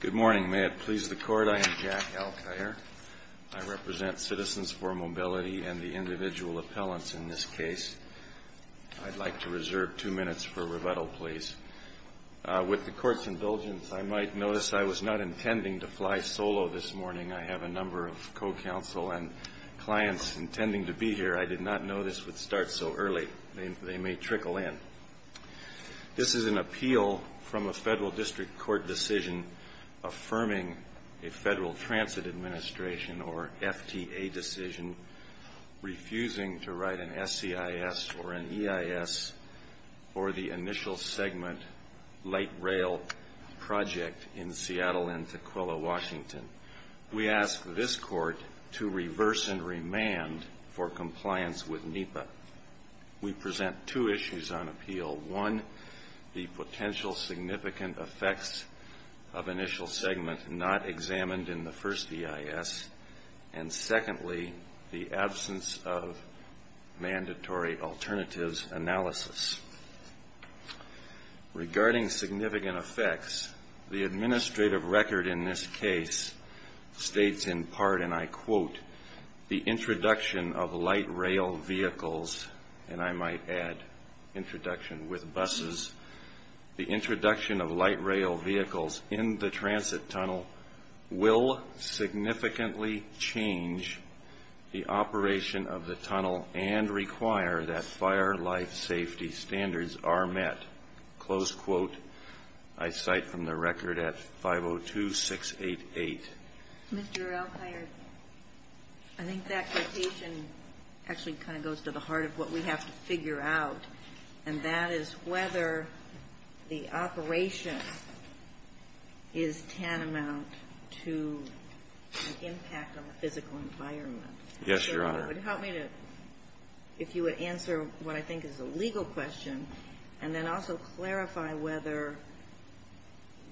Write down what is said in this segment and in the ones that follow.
Good morning. May it please the Court, I am Jack Alcaire. I represent Citizens for Mobility and the individual appellants in this case. I'd like to reserve two minutes for rebuttal, please. With the Court's indulgence, I might notice I was not intending to fly solo this morning. I have a number of co-counsel and clients intending to be here. I did not know this would start so early. They may trickle in. This is an appeal from a Federal District Court decision affirming a Federal Transit Administration or FTA decision refusing to write an SCIS or an EIS for the initial segment light rail project in Seattle and Tukwila, Washington. We ask this Court to reverse and remand for compliance with NEPA. We present two issues on appeal. One, the potential significant effects of initial segment not examined in the first EIS, and secondly, the absence of mandatory alternatives analysis. Regarding significant effects, the administrative record in this case states in part, and I quote, the introduction of light rail vehicles, and I might add introduction with buses, the introduction of light rail vehicles in the transit tunnel will significantly change the operation of the tunnel and require that fire life safety standards are met. Close quote. I cite from the record at 502688. Mr. Elkhart, I think that quotation actually kind of goes to the heart of what we have to figure out, and that is whether the operation is tantamount to an impact on the physical environment. Yes, Your Honor. It would help me if you would answer what I think is a legal question and then also clarify whether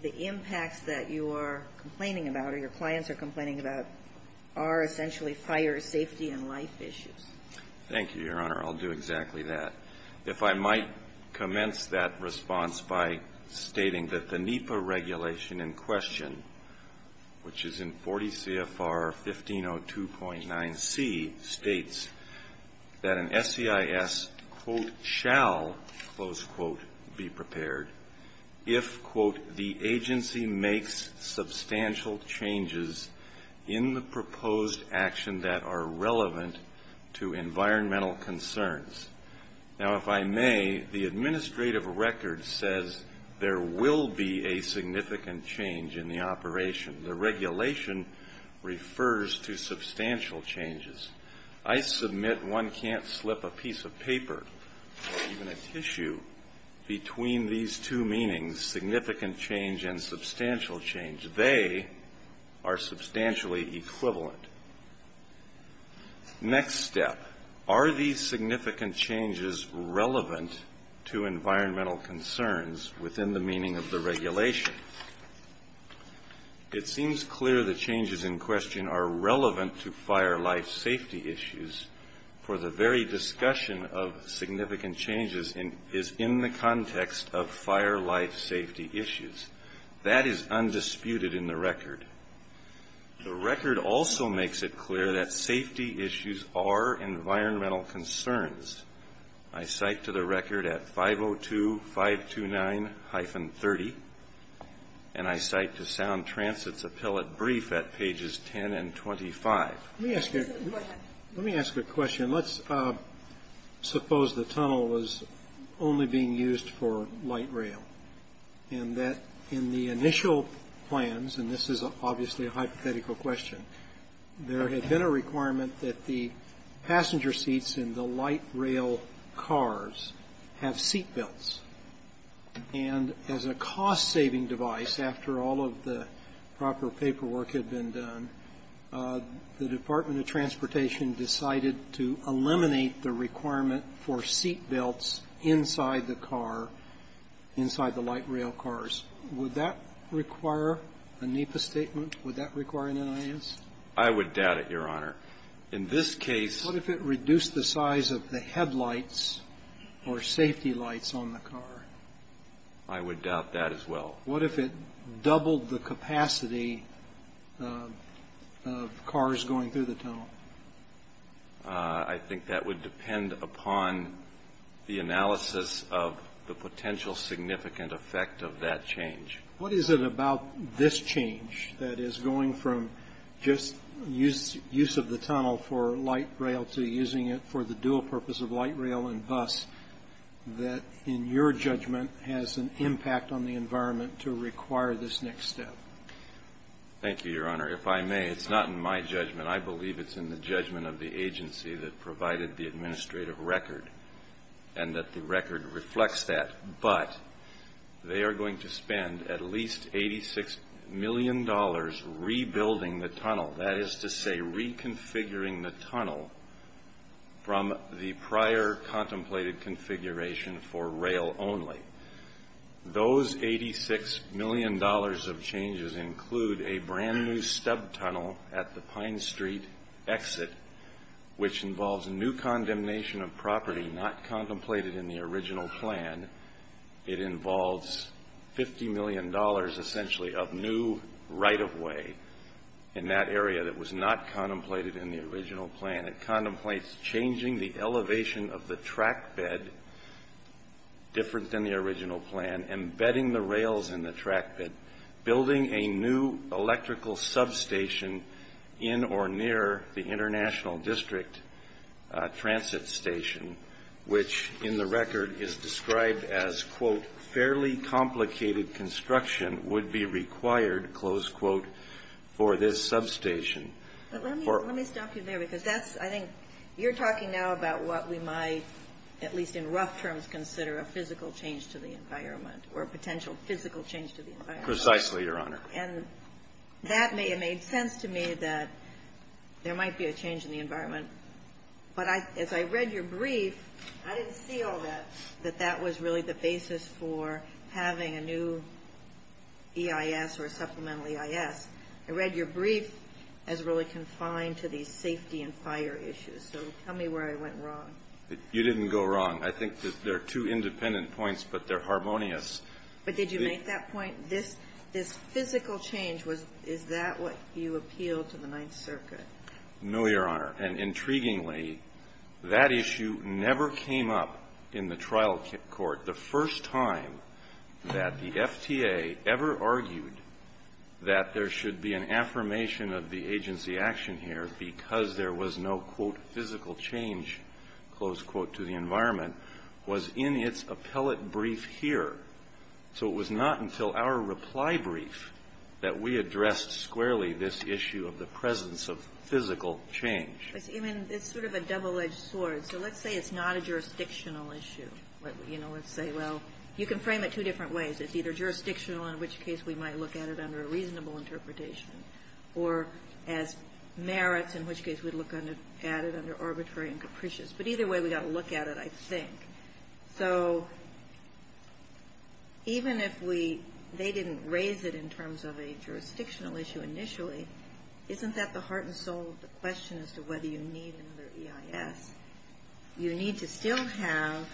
the impacts that you are complaining about or your clients are complaining about are essentially fire safety and life issues. Thank you, Your Honor. I'll do exactly that. If I might commence that response by stating that the NEPA regulation in question, which is in 40 CFR 1502.9C, states that an SEIS, quote, shall, close quote, be prepared if, quote, the agency makes substantial changes in the proposed action that are relevant to environmental concerns. Now, if I may, the administrative record says there will be a significant change in the operation. The regulation refers to substantial changes. I submit one can't slip a piece of paper or even a tissue between these two meanings, significant change and substantial change. They are substantially equivalent. Next step, are these significant changes relevant to environmental concerns within the meaning of the regulation? It seems clear the changes in question are relevant to fire life safety issues for the very discussion of significant changes is in the context of fire life safety issues. That is undisputed in the record. The record also makes it clear that safety issues are environmental concerns. I cite to the record at 502.529-30 and I cite to Sound Transit's appellate brief at pages 10 and 25. Let me ask you a question. Let's suppose the tunnel was only being used for light rail and that in the initial plans, and this is obviously a hypothetical question, there had been a requirement that the passenger seats in the light rail cars have seat belts. And as a cost-saving device, after all of the proper paperwork had been done, the Department of Transportation decided to eliminate the requirement for seat belts inside the car, inside the light rail cars. Would that require a NEPA statement? Would that require an NIS? I would doubt it, Your Honor. In this case — I would doubt that as well. What if it doubled the capacity of cars going through the tunnel? I think that would depend upon the analysis of the potential significant effect of that change. What is it about this change that is going from just use of the tunnel for light rail to using it for the dual purpose of light rail and bus that, in your judgment, has an impact on the environment to require this next step? Thank you, Your Honor. If I may, it's not in my judgment. I believe it's in the judgment of the agency that provided the administrative record and that the record reflects that. But they are going to spend at least $86 million rebuilding the tunnel. That is to say, reconfiguring the tunnel from the prior contemplated configuration for rail only. Those $86 million of changes include a brand new stub tunnel at the Pine Street exit, which involves new condemnation of property not contemplated in the original plan. It involves $50 million, essentially, of new right-of-way in that area that was not contemplated in the original plan. It contemplates changing the elevation of the track bed, different than the original plan, embedding the rails in the track bed, building a new electrical substation in or near the International District transit station, which, in the record, is described as, quote, fairly complicated construction, would be required, close quote, for this substation. But let me stop you there because that's, I think, you're talking now about what we might, at least in rough terms, consider a physical change to the environment or a potential physical change to the environment. Precisely, Your Honor. And that may have made sense to me that there might be a change in the environment. But as I read your brief, I didn't see all that, that that was really the basis for having a new EIS or supplemental EIS. I read your brief as really confined to these safety and fire issues. So tell me where I went wrong. You didn't go wrong. I think there are two independent points, but they're harmonious. But did you make that point? This physical change, is that what you appealed to the Ninth Circuit? No, Your Honor. And intriguingly, that issue never came up in the trial court. The first time that the FTA ever argued that there should be an affirmation of the agency action here because there was no, quote, physical change, close quote, to the environment was in its appellate brief here. So it was not until our reply brief that we addressed squarely this issue of the presence of physical change. I mean, it's sort of a double-edged sword. So let's say it's not a jurisdictional issue. Let's say, well, you can frame it two different ways. It's either jurisdictional, in which case we might look at it under a reasonable interpretation, or as merits, in which case we'd look at it under arbitrary and capricious. But either way, we've got to look at it, I think. So even if we they didn't raise it in terms of a jurisdictional issue initially, isn't that the heart and soul of the question as to whether you need another EIS? You need to still have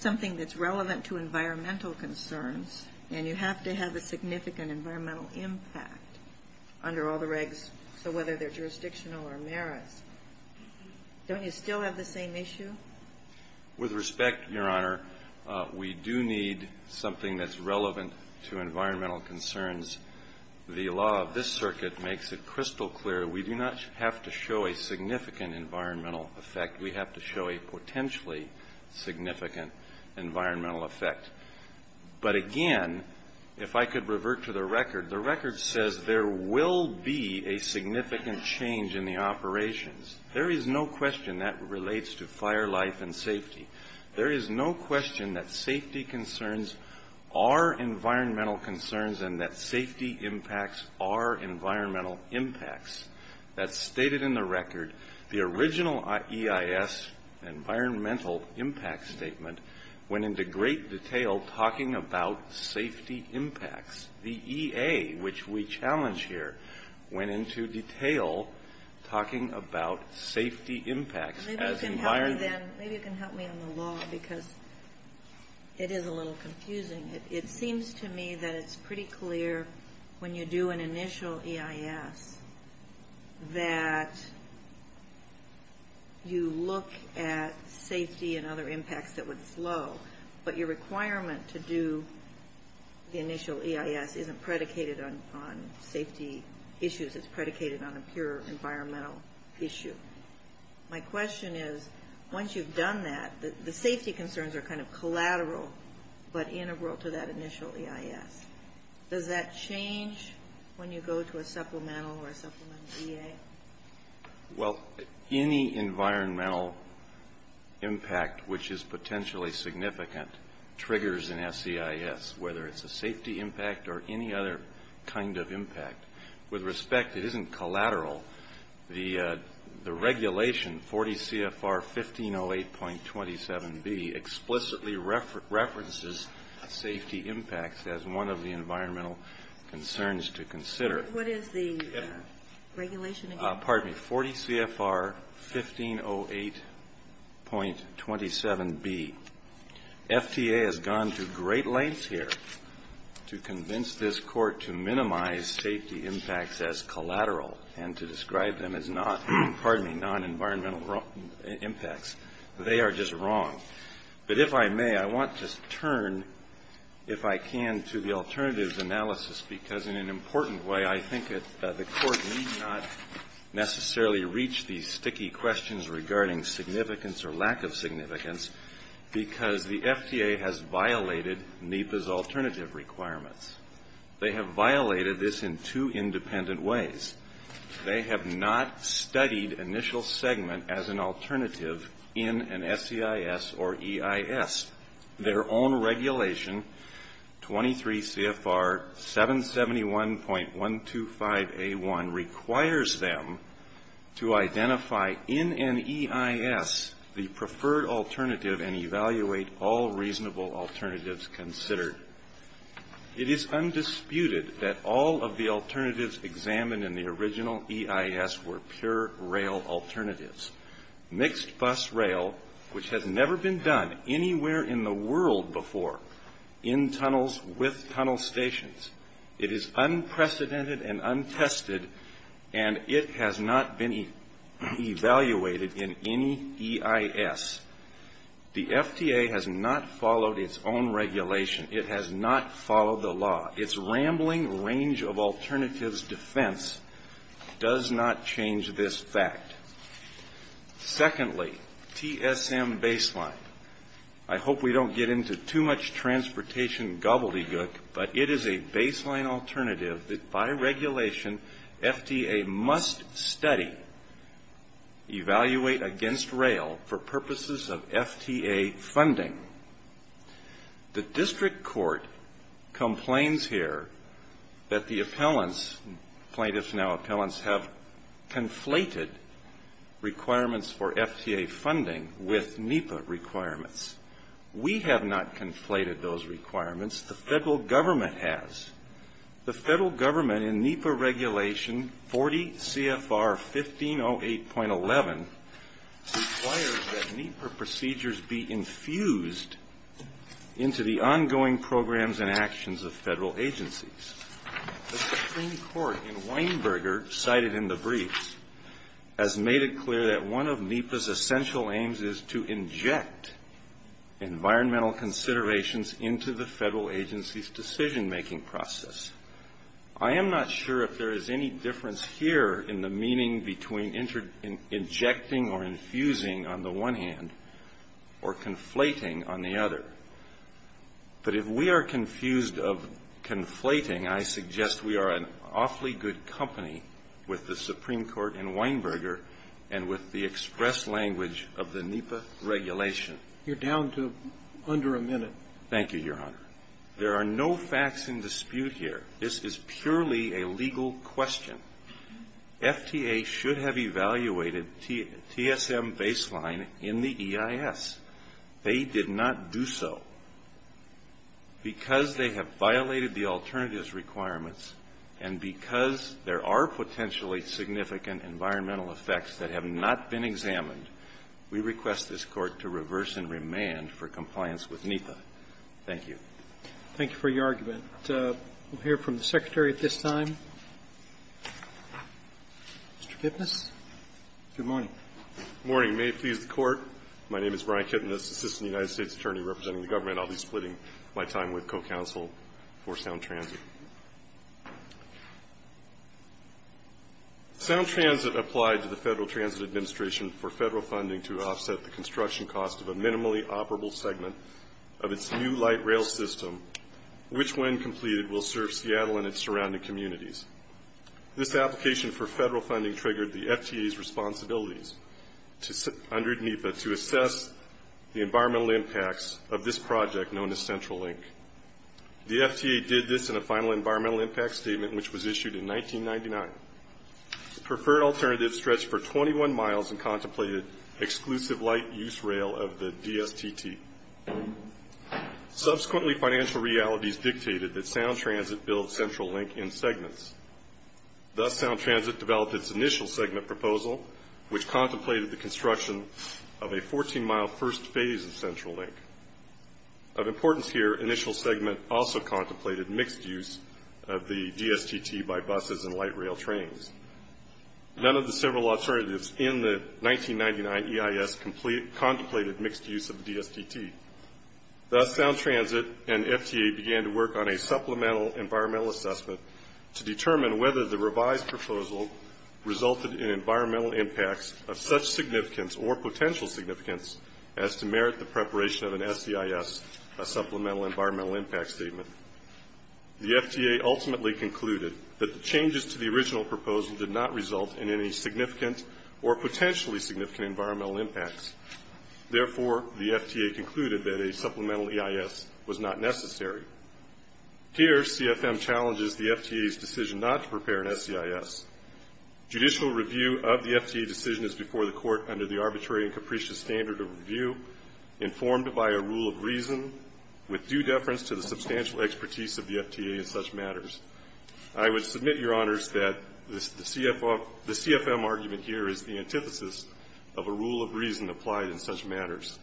something that's relevant to environmental concerns. And you have to have a significant environmental impact under all the regs, so whether they're jurisdictional or merits. Don't you still have the same issue? With respect, Your Honor, we do need something that's relevant to environmental concerns. The law of this circuit makes it crystal clear. We do not have to show a significant environmental effect. We have to show a potentially significant environmental effect. But again, if I could revert to the record, the record says there will be a significant change in the operations. There is no question that relates to fire life and safety. There is no question that safety concerns are environmental concerns and that safety impacts are environmental impacts. That's stated in the record. The original EIS environmental impact statement went into great detail talking about safety impacts. The EA, which we challenge here, went into detail talking about safety impacts. Maybe you can help me on the law because it is a little confusing. It seems to me that it's pretty clear when you do an initial EIS that you look at safety and other impacts that was low, but your requirement to do the initial EIS isn't predicated on safety issues. It's predicated on a pure environmental issue. My question is, once you've done that, the safety concerns are kind of collateral but integral to that initial EIS. Does that change when you go to a supplemental or a supplement EA? Well, any environmental impact which is potentially significant triggers an SEIS, whether it's a safety impact or any other kind of impact. With respect, it isn't collateral. The regulation, 40 CFR 1508.27b, explicitly references safety impacts as one of the environmental concerns to consider. What is the regulation again? Pardon me. 40 CFR 1508.27b. FTA has gone to great lengths here to convince this court to minimize safety impacts as collateral and to describe them as non-environmental impacts. They are just wrong. But if I may, I want to turn, if I can, to the alternatives analysis because in an important way, I think the court need not necessarily reach these sticky questions regarding significance or lack of significance because the FTA has violated NEPA's alternative requirements. They have violated this in two independent ways. They have not studied initial segment as an alternative in an SEIS or EIS. Their own regulation, 23 CFR 771.125a1, requires them to identify in an EIS the preferred alternative and evaluate all reasonable alternatives considered. It is undisputed that all of the alternatives examined in the original EIS were pure rail alternatives, mixed bus rail, which has never been done anywhere in the world before in tunnels with tunnel stations. It is unprecedented and untested, and it has not been evaluated in any EIS. The FTA has not followed its own regulation. It has not followed the law. Its rambling range of alternatives defense does not change this fact. Secondly, TSM baseline. I hope we don't get into too much transportation gobbledygook, but it is a baseline alternative that by regulation FTA must study, evaluate against rail for purposes of FTA funding. The district court complains here that the appellants, plaintiffs now appellants, have conflated requirements for FTA funding with NEPA requirements. We have not conflated those requirements. The Federal Government has. The Federal Government in NEPA regulation 40 CFR 1508.11 requires that NEPA procedures be infused into the ongoing programs and actions of Federal agencies. The Supreme Court in Weinberger cited in the briefs has made it clear that one of NEPA's essential aims is to inject environmental considerations into the Federal agency's decision-making process. I am not sure if there is any difference here in the meaning between injecting or infusing on the one hand or conflating on the other. But if we are confused of conflating, I suggest we are in awfully good company with the Supreme Court in Weinberger and with the express language of the NEPA regulation. You're down to under a minute. Thank you, Your Honor. There are no facts in dispute here. This is purely a legal question. FTA should have evaluated TSM baseline in the EIS. They did not do so. Because they have violated the alternatives requirements and because there are potentially significant environmental effects that have not been examined, we request this Court to reverse and remand for compliance with NEPA. Thank you. Thank you for your argument. We'll hear from the Secretary at this time. Mr. Kipnis. Good morning. Good morning. May it please the Court, my name is Brian Kipnis, Assistant United States Attorney representing the government. I'll be splitting my time with co-counsel for Sound Transit. Sound Transit applied to the Federal Transit Administration for federal funding to offset the construction cost of a minimally operable segment of its new light rail system, which when completed will serve Seattle and its surrounding communities. This application for federal funding triggered the FTA's responsibilities under NEPA to assess the environmental impacts of this project known as Central Link. The FTA did this in a final environmental impact statement, which was issued in 1999. The preferred alternative stretched for 21 miles and contemplated exclusive light-use rail of the DSTT. Subsequently, financial realities dictated that Sound Transit build Central Link in segments. Thus, Sound Transit developed its initial segment proposal, which contemplated the construction of a 14-mile first phase of Central Link. Of importance here, initial segment also contemplated mixed use of the DSTT by buses and light rail trains. None of the several alternatives in the 1999 EIS contemplated mixed use of the DSTT. Thus, Sound Transit and FTA began to work on a supplemental environmental assessment to determine whether the revised proposal resulted in environmental impacts of such significance or potential significance as to merit the preparation of an SEIS, a supplemental environmental impact statement. The FTA ultimately concluded that the changes to the original proposal did not result in any significant or potentially significant environmental impacts. Therefore, the FTA concluded that a supplemental EIS was not necessary. Here, CFM challenges the FTA's decision not to prepare an SEIS. Judicial review of the FTA decision is before the court under the arbitrary and capricious standard of review informed by a rule of reason with due deference to the substantial expertise of the FTA in such matters. I would submit, Your Honors, that the CFM argument here is the antithesis of a rule of reason applied in such matters.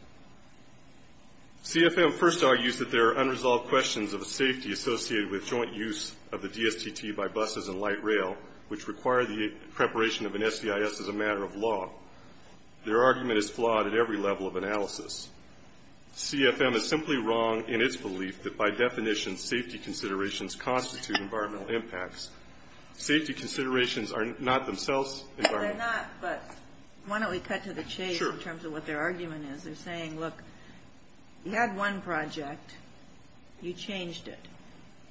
CFM first argues that there are unresolved questions of the safety associated with joint use of the DSTT by buses and light rail, which require the preparation of an SEIS as a matter of law. Their argument is flawed at every level of analysis. CFM is simply wrong in its belief that, by definition, safety considerations constitute environmental impacts. Safety considerations are not themselves environmental. Why don't we cut to the chase in terms of what their argument is. They're saying, look, you had one project. You changed it.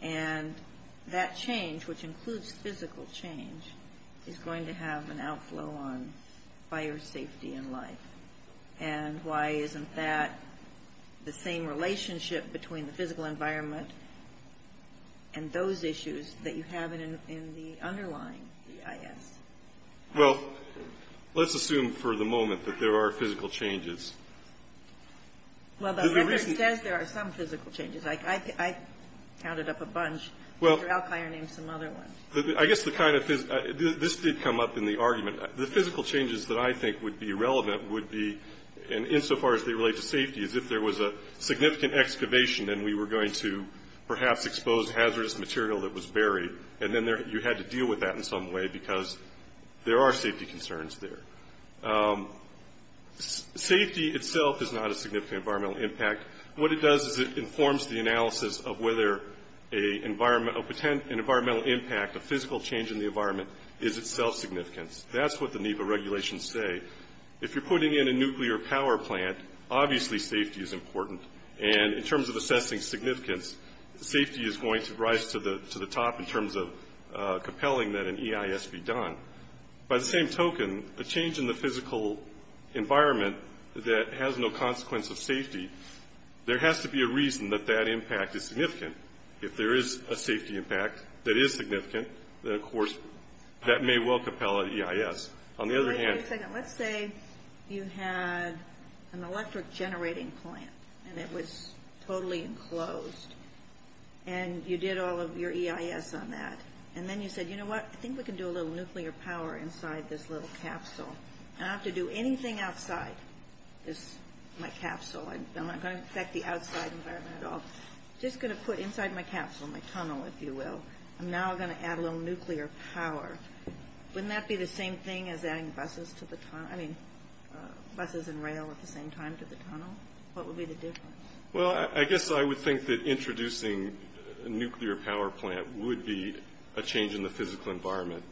And that change, which includes physical change, is going to have an outflow on fire safety and life. And why isn't that the same relationship between the physical environment and those issues that you have in the underlying EIS? Well, let's assume for the moment that there are physical changes. Well, the record says there are some physical changes. I counted up a bunch. Dr. Alkier named some other ones. I guess the kind of – this did come up in the argument. The physical changes that I think would be relevant would be, insofar as they relate to safety, is if there was a significant excavation and we were going to perhaps expose hazardous material that was buried, and then you had to deal with that in some way because there are safety concerns there. Safety itself is not a significant environmental impact. What it does is it informs the analysis of whether an environmental impact, a physical change in the environment, is itself significant. That's what the NEPA regulations say. If you're putting in a nuclear power plant, obviously safety is important. And in terms of assessing significance, safety is going to rise to the top in terms of compelling that an EIS be done. By the same token, a change in the physical environment that has no consequence of safety, there has to be a reason that that impact is significant. If there is a safety impact that is significant, then, of course, that may well compel an EIS. On the other hand – Wait a second. Let's say you had an electric generating plant and it was totally enclosed and you did all of your EIS on that. And then you said, you know what? I think we can do a little nuclear power inside this little capsule. I don't have to do anything outside my capsule. I'm not going to affect the outside environment at all. I'm just going to put inside my capsule, my tunnel, if you will. I'm now going to add a little nuclear power. Wouldn't that be the same thing as adding buses and rail at the same time to the tunnel? What would be the difference? Well, I guess I would think that introducing a nuclear power plant would be a change in the physical environment.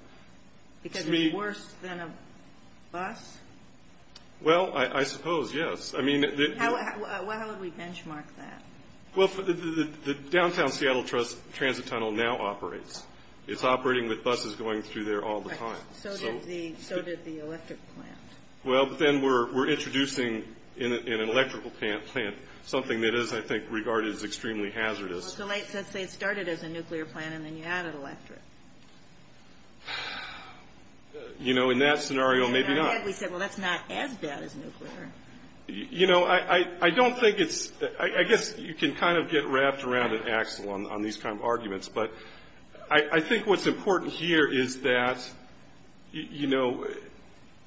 Because it's worse than a bus? Well, I suppose, yes. How would we benchmark that? Well, the downtown Seattle Transit Tunnel now operates. It's operating with buses going through there all the time. So did the electric plant. Well, then we're introducing an electrical plant, something that is, I think, regarded as extremely hazardous. So let's say it started as a nuclear plant and then you added electric. You know, in that scenario, maybe not. In our head, we said, well, that's not as bad as nuclear. You know, I don't think it's – I guess you can kind of get wrapped around an axle on these kind of arguments. But I think what's important here is that, you know,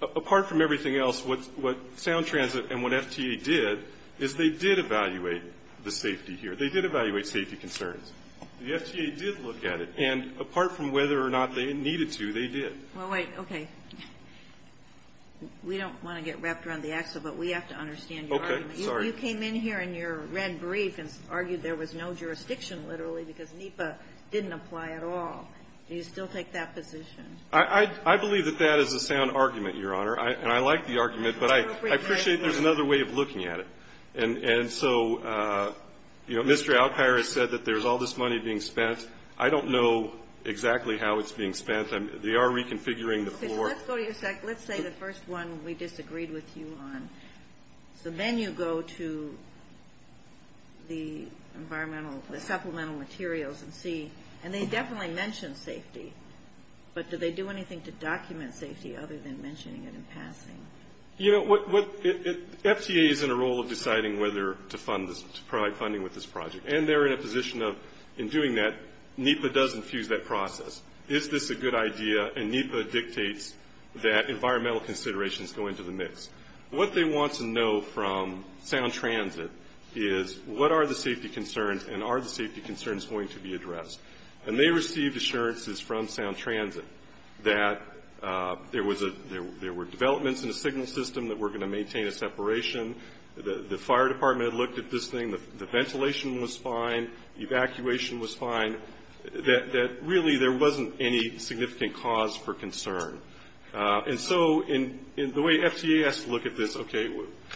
apart from everything else, what Sound Transit and what FTA did is they did evaluate the safety here. They did evaluate safety concerns. The FTA did look at it. And apart from whether or not they needed to, they did. Well, wait. Okay. We don't want to get wrapped around the axle, but we have to understand your argument. Okay. Sorry. You know, you came in here in your red brief and argued there was no jurisdiction, literally, because NEPA didn't apply at all. Do you still take that position? I believe that that is a sound argument, Your Honor. And I like the argument, but I appreciate there's another way of looking at it. And so, you know, Mr. Alkire has said that there's all this money being spent. I don't know exactly how it's being spent. They are reconfiguring the floor. Let's go to your second. Let's say the first one we disagreed with you on. So then you go to the environmental, the supplemental materials and see. And they definitely mention safety. But do they do anything to document safety other than mentioning it in passing? You know, FTA is in a role of deciding whether to fund this, to provide funding with this project. And they're in a position of, in doing that, NEPA does infuse that process. Is this a good idea? What they want to know from Sound Transit is what are the safety concerns and are the safety concerns going to be addressed. And they received assurances from Sound Transit that there were developments in the signal system that were going to maintain a separation. The fire department had looked at this thing. The ventilation was fine. Evacuation was fine. That really there wasn't any significant cause for concern. And so the way FTA has to look at this, okay,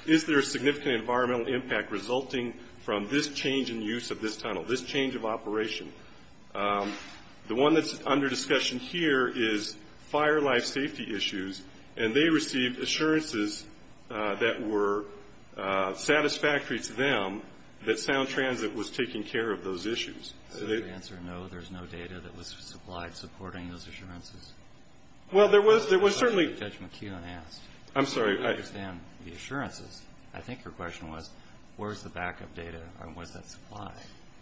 is there a significant environmental impact resulting from this change in use of this tunnel, this change of operation? The one that's under discussion here is fire life safety issues. And they received assurances that were satisfactory to them that Sound Transit was taking care of those issues. So the answer is no, there's no data that was supplied supporting those assurances? Well, there was certainly. Judge McKeon asked. I'm sorry. I don't understand the assurances. I think her question was where's the backup data and what's that supply?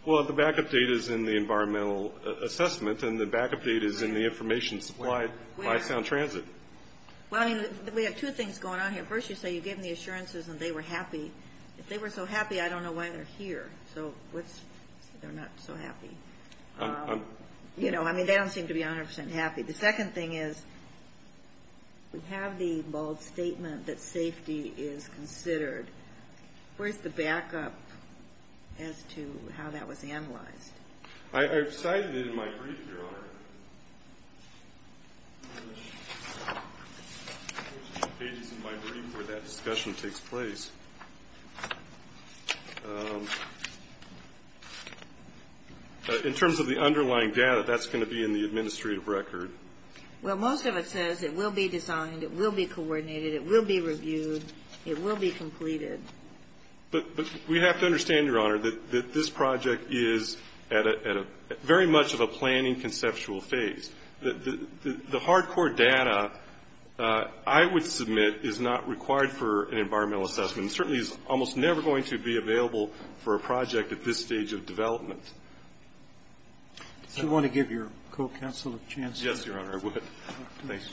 Well, the backup data is in the environmental assessment, and the backup data is in the information supplied by Sound Transit. Well, we have two things going on here. First, you say you gave them the assurances and they were happy. If they were so happy, I don't know why they're here. So what's they're not so happy? You know, I mean, they don't seem to be 100% happy. The second thing is we have the bold statement that safety is considered. Where's the backup as to how that was analyzed? I've cited it in my brief, Your Honor. There's pages in my brief where that discussion takes place. In terms of the underlying data, that's going to be in the administrative record. Well, most of it says it will be designed, it will be coordinated, it will be reviewed, it will be completed. But we have to understand, Your Honor, that this project is at a very much of a planning conceptual phase. The hard-core data, I would submit, is not required for an environmental assessment and certainly is almost never going to be available for a project at this stage of development. Do you want to give your co-counsel a chance? Yes, Your Honor, I would. Thanks.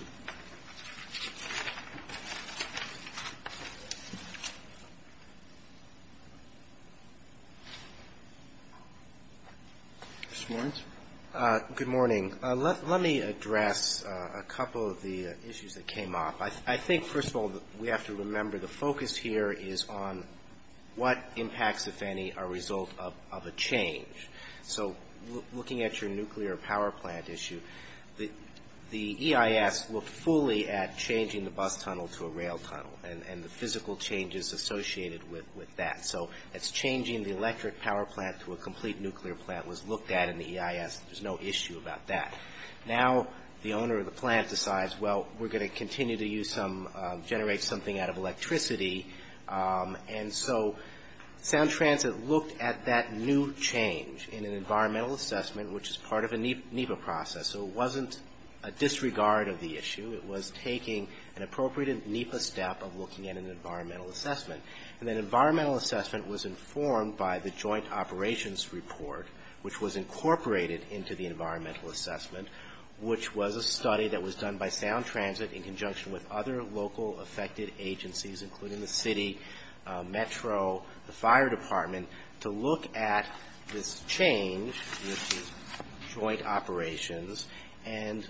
Mr. Moritz. Good morning. Let me address a couple of the issues that came up. I think, first of all, we have to remember the focus here is on what impacts, if any, are a result of a change. So looking at your nuclear power plant issue, the EIS looked fully at changing the bus tunnel to a rail tunnel and the physical changes associated with that. So it's changing the electric power plant to a complete nuclear plant was looked at in the EIS. There's no issue about that. Now the owner of the plant decides, well, we're going to continue to use some, generate something out of electricity. And so Sound Transit looked at that new change in an environmental assessment, which is part of a NEPA process. So it wasn't a disregard of the issue. It was taking an appropriate NEPA step of looking at an environmental assessment. And that environmental assessment was informed by the joint operations report, which was incorporated into the environmental assessment, which was a study that was done by Sound Transit in conjunction with other local affected agencies, including the city, metro, the fire department, to look at this change with joint operations and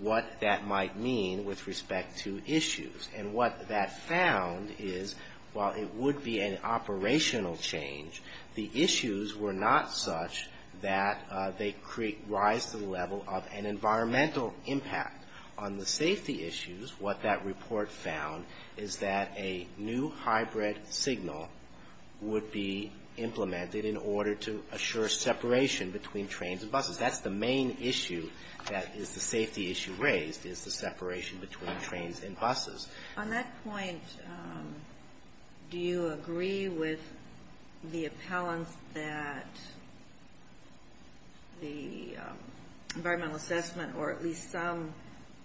what that might mean with respect to issues. And what that found is while it would be an operational change, the issues were not such that they create rise to the level of an environmental impact. On the safety issues, what that report found is that a new hybrid signal would be implemented in order to assure separation between trains and buses. That's the main issue that is the safety issue raised is the separation between trains and buses. On that point, do you agree with the appellants that the environmental assessment or at least some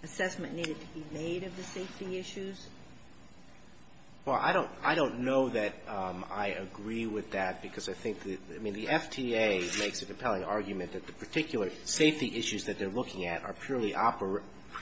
assessment needed to be made of the safety issues? Well, I don't know that I agree with that because I think the, I mean, the FTA makes a compelling argument that the particular safety issues that they're looking at are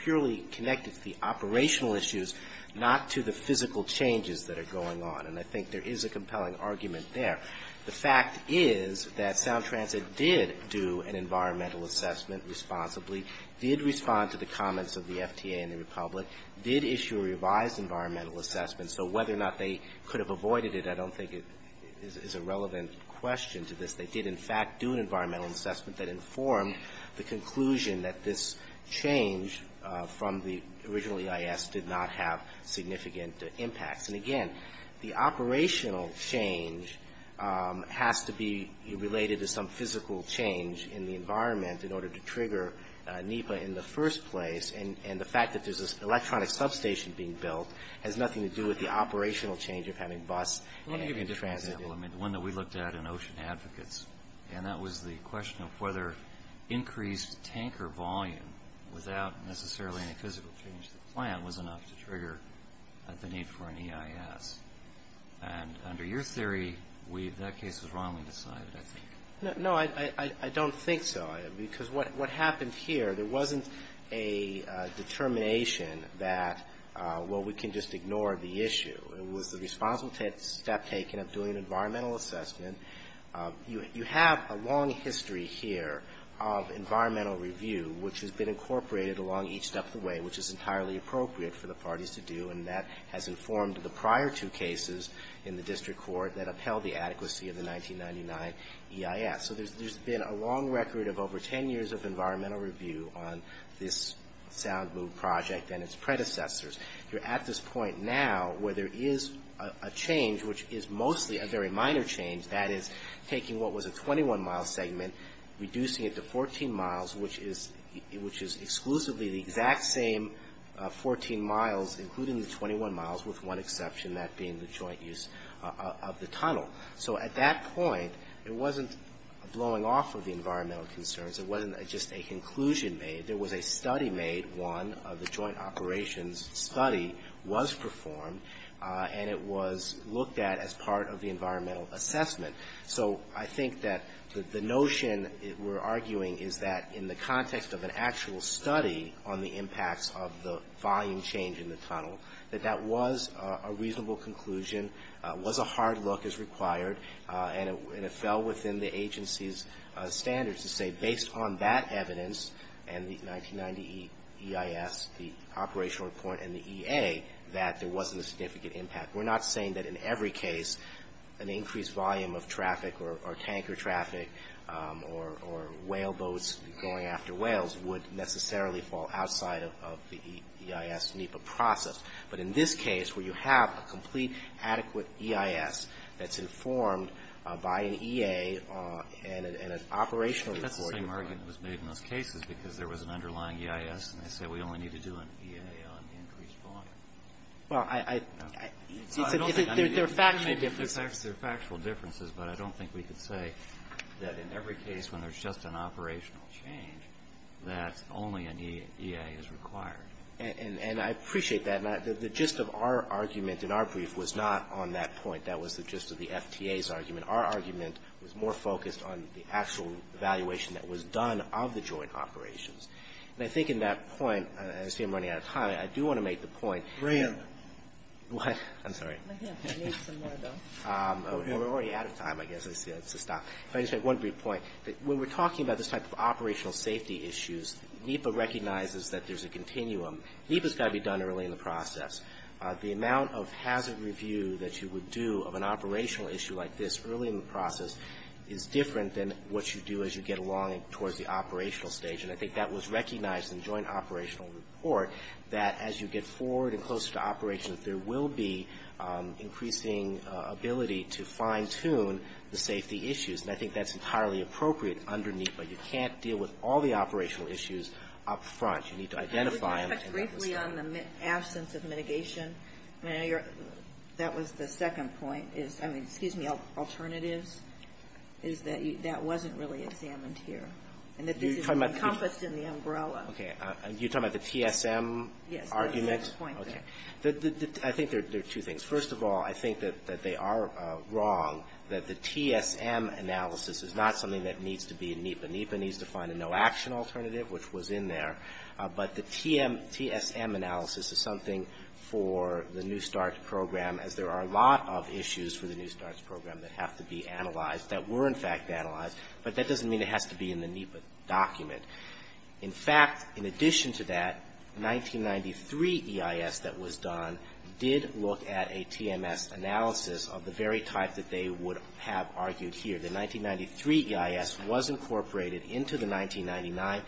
purely connected to the operational issues, not to the physical changes that are going on. And I think there is a compelling argument there. The fact is that Sound Transit did do an environmental assessment responsibly, did respond to the comments of the FTA and the Republic, did issue a revised environmental assessment. So whether or not they could have avoided it, I don't think is a relevant question to this. They did, in fact, do an environmental assessment that informed the conclusion that this change from the original EIS did not have significant impacts. And again, the operational change has to be related to some physical change in the environment in order to trigger NEPA in the first place. And the fact that there's an electronic substation being built has nothing to do with the operational change of having bus and transit. Well, let me give you an example. I mean, the one that we looked at in Ocean Advocates, and that was the question of whether increased tanker volume without necessarily any physical change to the plant was enough to trigger the need for an EIS. And under your theory, that case was wrongly decided, I think. No, I don't think so. Because what happened here, there wasn't a determination that, well, we can just ignore the issue. It was the responsible step taken of doing an environmental assessment. You have a long history here of environmental review, which has been incorporated along each step of the way, which is entirely appropriate for the parties to do, and that has informed the prior two cases in the district court that upheld the adequacy of the 1999 EIS. So there's been a long record of over 10 years of environmental review on this Sound Mood project and its predecessors. You're at this point now where there is a change, which is mostly a very minor change. That is taking what was a 21-mile segment, reducing it to 14 miles, which is exclusively the exact same 14 miles, including the 21 miles, with one exception, that being the joint use of the tunnel. So at that point, it wasn't blowing off of the environmental concerns. It wasn't just a conclusion made. There was a study made. One of the joint operations study was performed, and it was looked at as part of the environmental assessment. So I think that the notion we're arguing is that in the context of an actual study on the impacts of the volume change in the tunnel, that that was a reasonable conclusion, was a hard look as required, and it fell within the agency's standards to say based on that evidence and the 1990 EIS, the operational report and the EA, that there wasn't a significant impact. We're not saying that in every case an increased volume of traffic or tanker traffic or whale boats going after whales would necessarily fall outside of the EIS NEPA process. But in this case where you have a complete adequate EIS that's informed by an EA and an operational report. That's the same argument that was made in those cases because there was an underlying EIS, and they said we only need to do an EA on the increased volume. Well, I don't think they're factual differences. But I don't think we could say that in every case when there's just an operational change that only an EA is required. And I appreciate that. The gist of our argument in our brief was not on that point. That was the gist of the FTA's argument. Our argument was more focused on the actual evaluation that was done of the joint operations. And I think in that point, I see I'm running out of time. I do want to make the point. Brian. What? I'm sorry. I need some more, though. We're already out of time, I guess. I see that's a stop. If I could just make one brief point. When we're talking about this type of operational safety issues, NEPA recognizes that there's a continuum. NEPA's got to be done early in the process. The amount of hazard review that you would do of an operational issue like this early in the process is different than what you do as you get along towards the operational stage. And I think that was recognized in the joint operational report, that as you get forward and closer to operations, there will be increasing ability to fine-tune the safety issues. And I think that's entirely appropriate under NEPA. You can't deal with all the operational issues up front. You need to identify them. Can I just touch briefly on the absence of mitigation? That was the second point. I mean, excuse me, alternatives, is that that wasn't really examined here. And that this is encompassed in the umbrella. Okay. You're talking about the TSM argument? Yes, that was the second point there. Okay. I think there are two things. First of all, I think that they are wrong, that the TSM analysis is not something that needs to be in NEPA. NEPA needs to find a no-action alternative, which was in there. But the TSM analysis is something for the New START program, as there are a lot of issues for the New START program that have to be analyzed, that were in fact analyzed. But that doesn't mean it has to be in the NEPA document. In fact, in addition to that, 1993 EIS that was done did look at a TMS analysis of the very type that they would have argued here. The 1993 EIS was incorporated into the 1999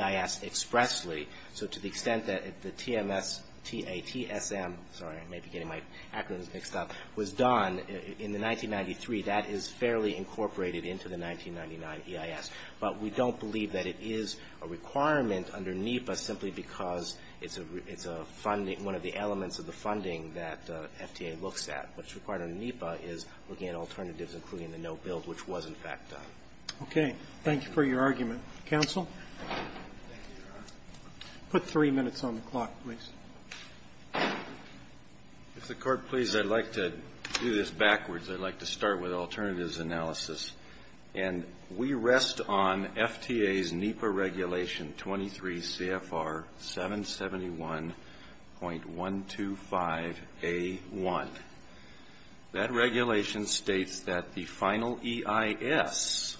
EIS expressly. So to the extent that the TMS, T-A-T-S-M, sorry, I may be getting my acronyms mixed up, was done in the 1993, that is fairly incorporated into the 1999 EIS. But we don't believe that it is a requirement under NEPA simply because it's a funding one of the elements of the funding that FTA looks at. What's required under NEPA is looking at alternatives, including the no-build, which was in fact done. Roberts. Okay. Thank you for your argument. Counsel? Put three minutes on the clock, please. If the Court pleases, I'd like to do this backwards. I'd like to start with alternatives analysis. And we rest on FTA's NEPA regulation 23 CFR 771.125A1. That regulation states that the final EIS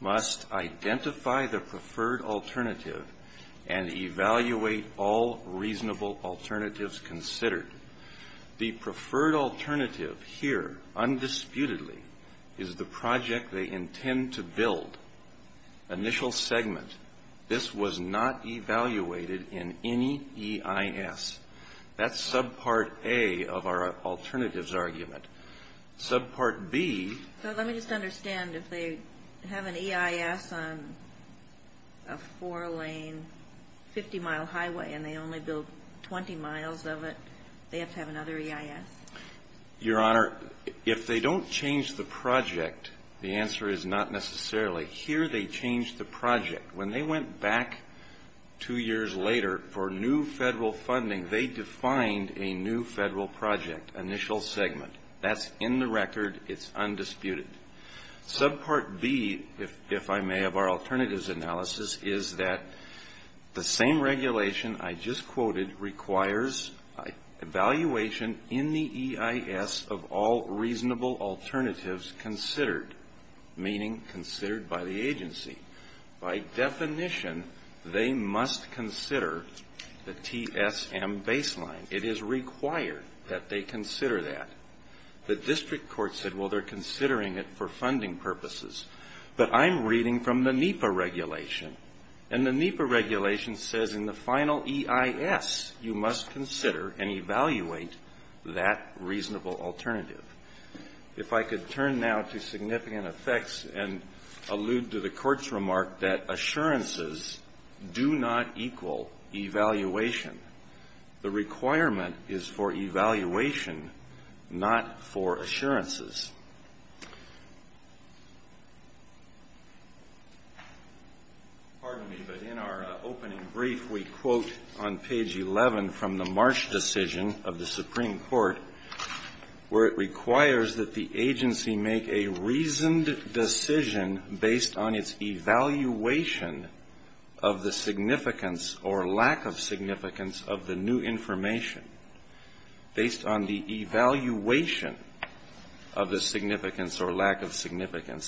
must identify the preferred alternative and evaluate all reasonable alternatives considered. The preferred alternative here, undisputedly, is the project they intend to build. Initial segment. This was not evaluated in any EIS. That's subpart A of our alternatives argument. Subpart B. So let me just understand. If they have an EIS on a four-lane, 50-mile highway and they only build 20 miles of it, they have to have another EIS? Your Honor, if they don't change the project, the answer is not necessarily. Here they change the project. When they went back two years later for new federal funding, they defined a new federal project, initial segment. That's in the record. It's undisputed. Subpart B, if I may, of our alternatives analysis is that the same regulation I just quoted requires evaluation in the EIS of all reasonable alternatives considered, meaning considered by the agency. By definition, they must consider the TSM baseline. It is required that they consider that. The district court said, well, they're considering it for funding purposes. But I'm reading from the NEPA regulation. And the NEPA regulation says in the final EIS you must consider and evaluate that reasonable alternative. If I could turn now to significant effects and allude to the Court's remark that assurances do not equal evaluation. The requirement is for evaluation, not for assurances. Pardon me, but in our opening brief, we quote on page 11 from the Marsh decision of the Supreme Court where it requires that the information based on the evaluation of the significance or lack of significance.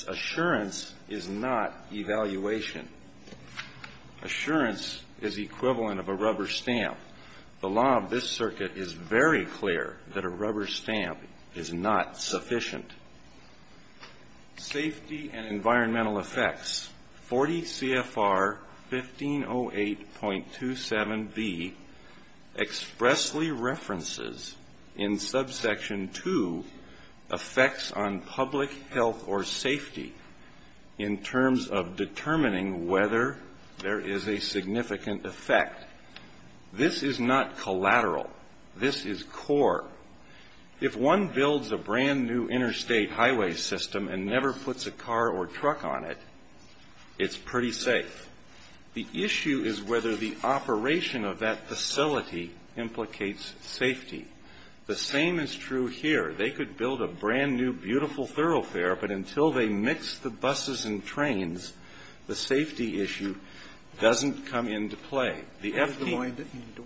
Assurance is not evaluation. Assurance is equivalent of a rubber stamp. The law of this circuit is very clear that a rubber stamp is not sufficient. Safety and environmental effects. 40 CFR 1508.27b expressly references in subsection 2 effects on public health or safety in terms of determining whether there is a significant effect. This is not collateral. This is core. If one builds a brand-new interstate highway system and never puts a car or truck on it, it's pretty safe. The issue is whether the operation of that facility implicates safety. The same is true here. They could build a brand-new beautiful thoroughfare, but until they mix the buses and trains, the safety issue doesn't come into play. The FTA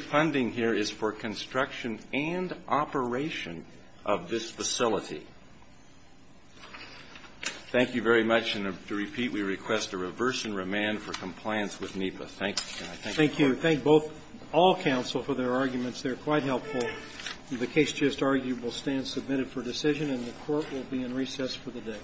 funding here is for construction and operation of this facility. Thank you very much, and to repeat, we request a reverse and remand for compliance with NEPA. Thank you. Thank you. Thank both all counsel for their arguments. They're quite helpful. Court will be in recess for the day.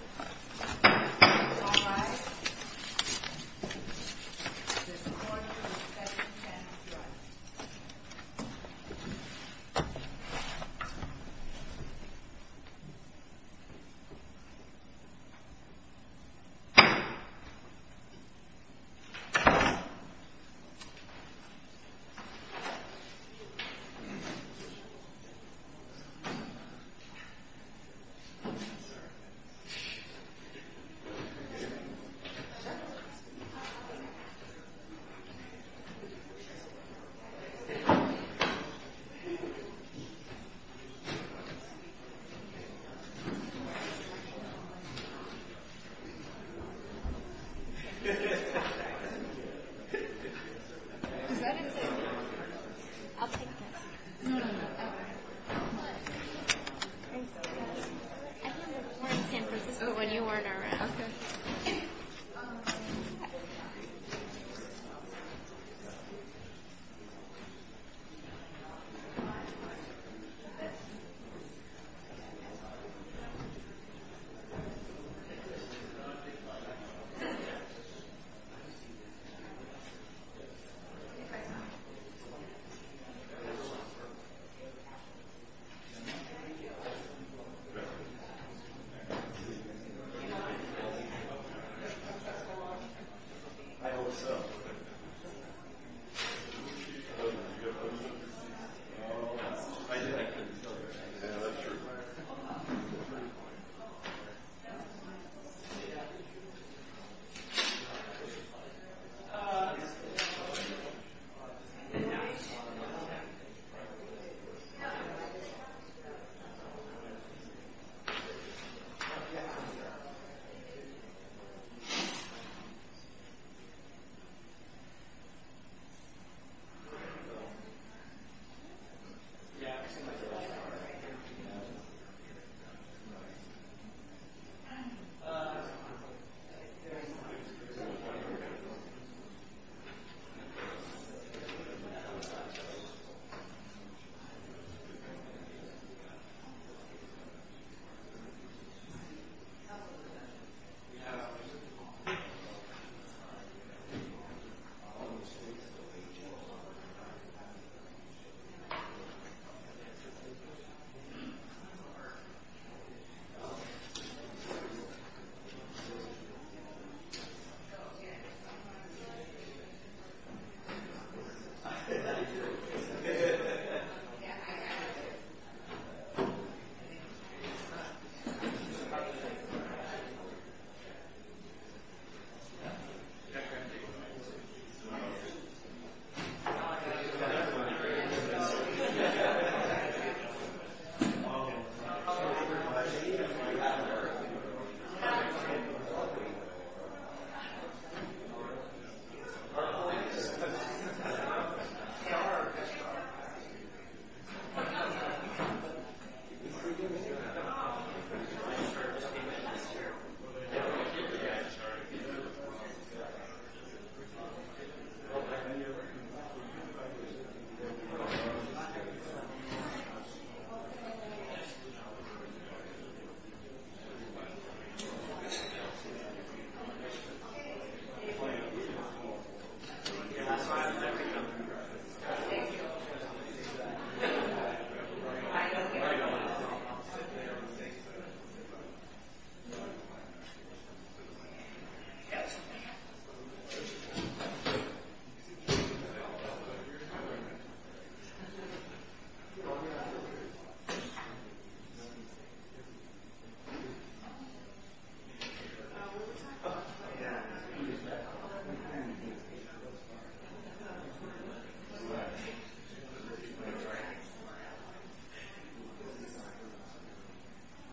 Thank you. I thought we were in San Francisco when you weren't around. Thank you. Thank you. Thank you. Thank you. Thank you. Thank you. Thank you.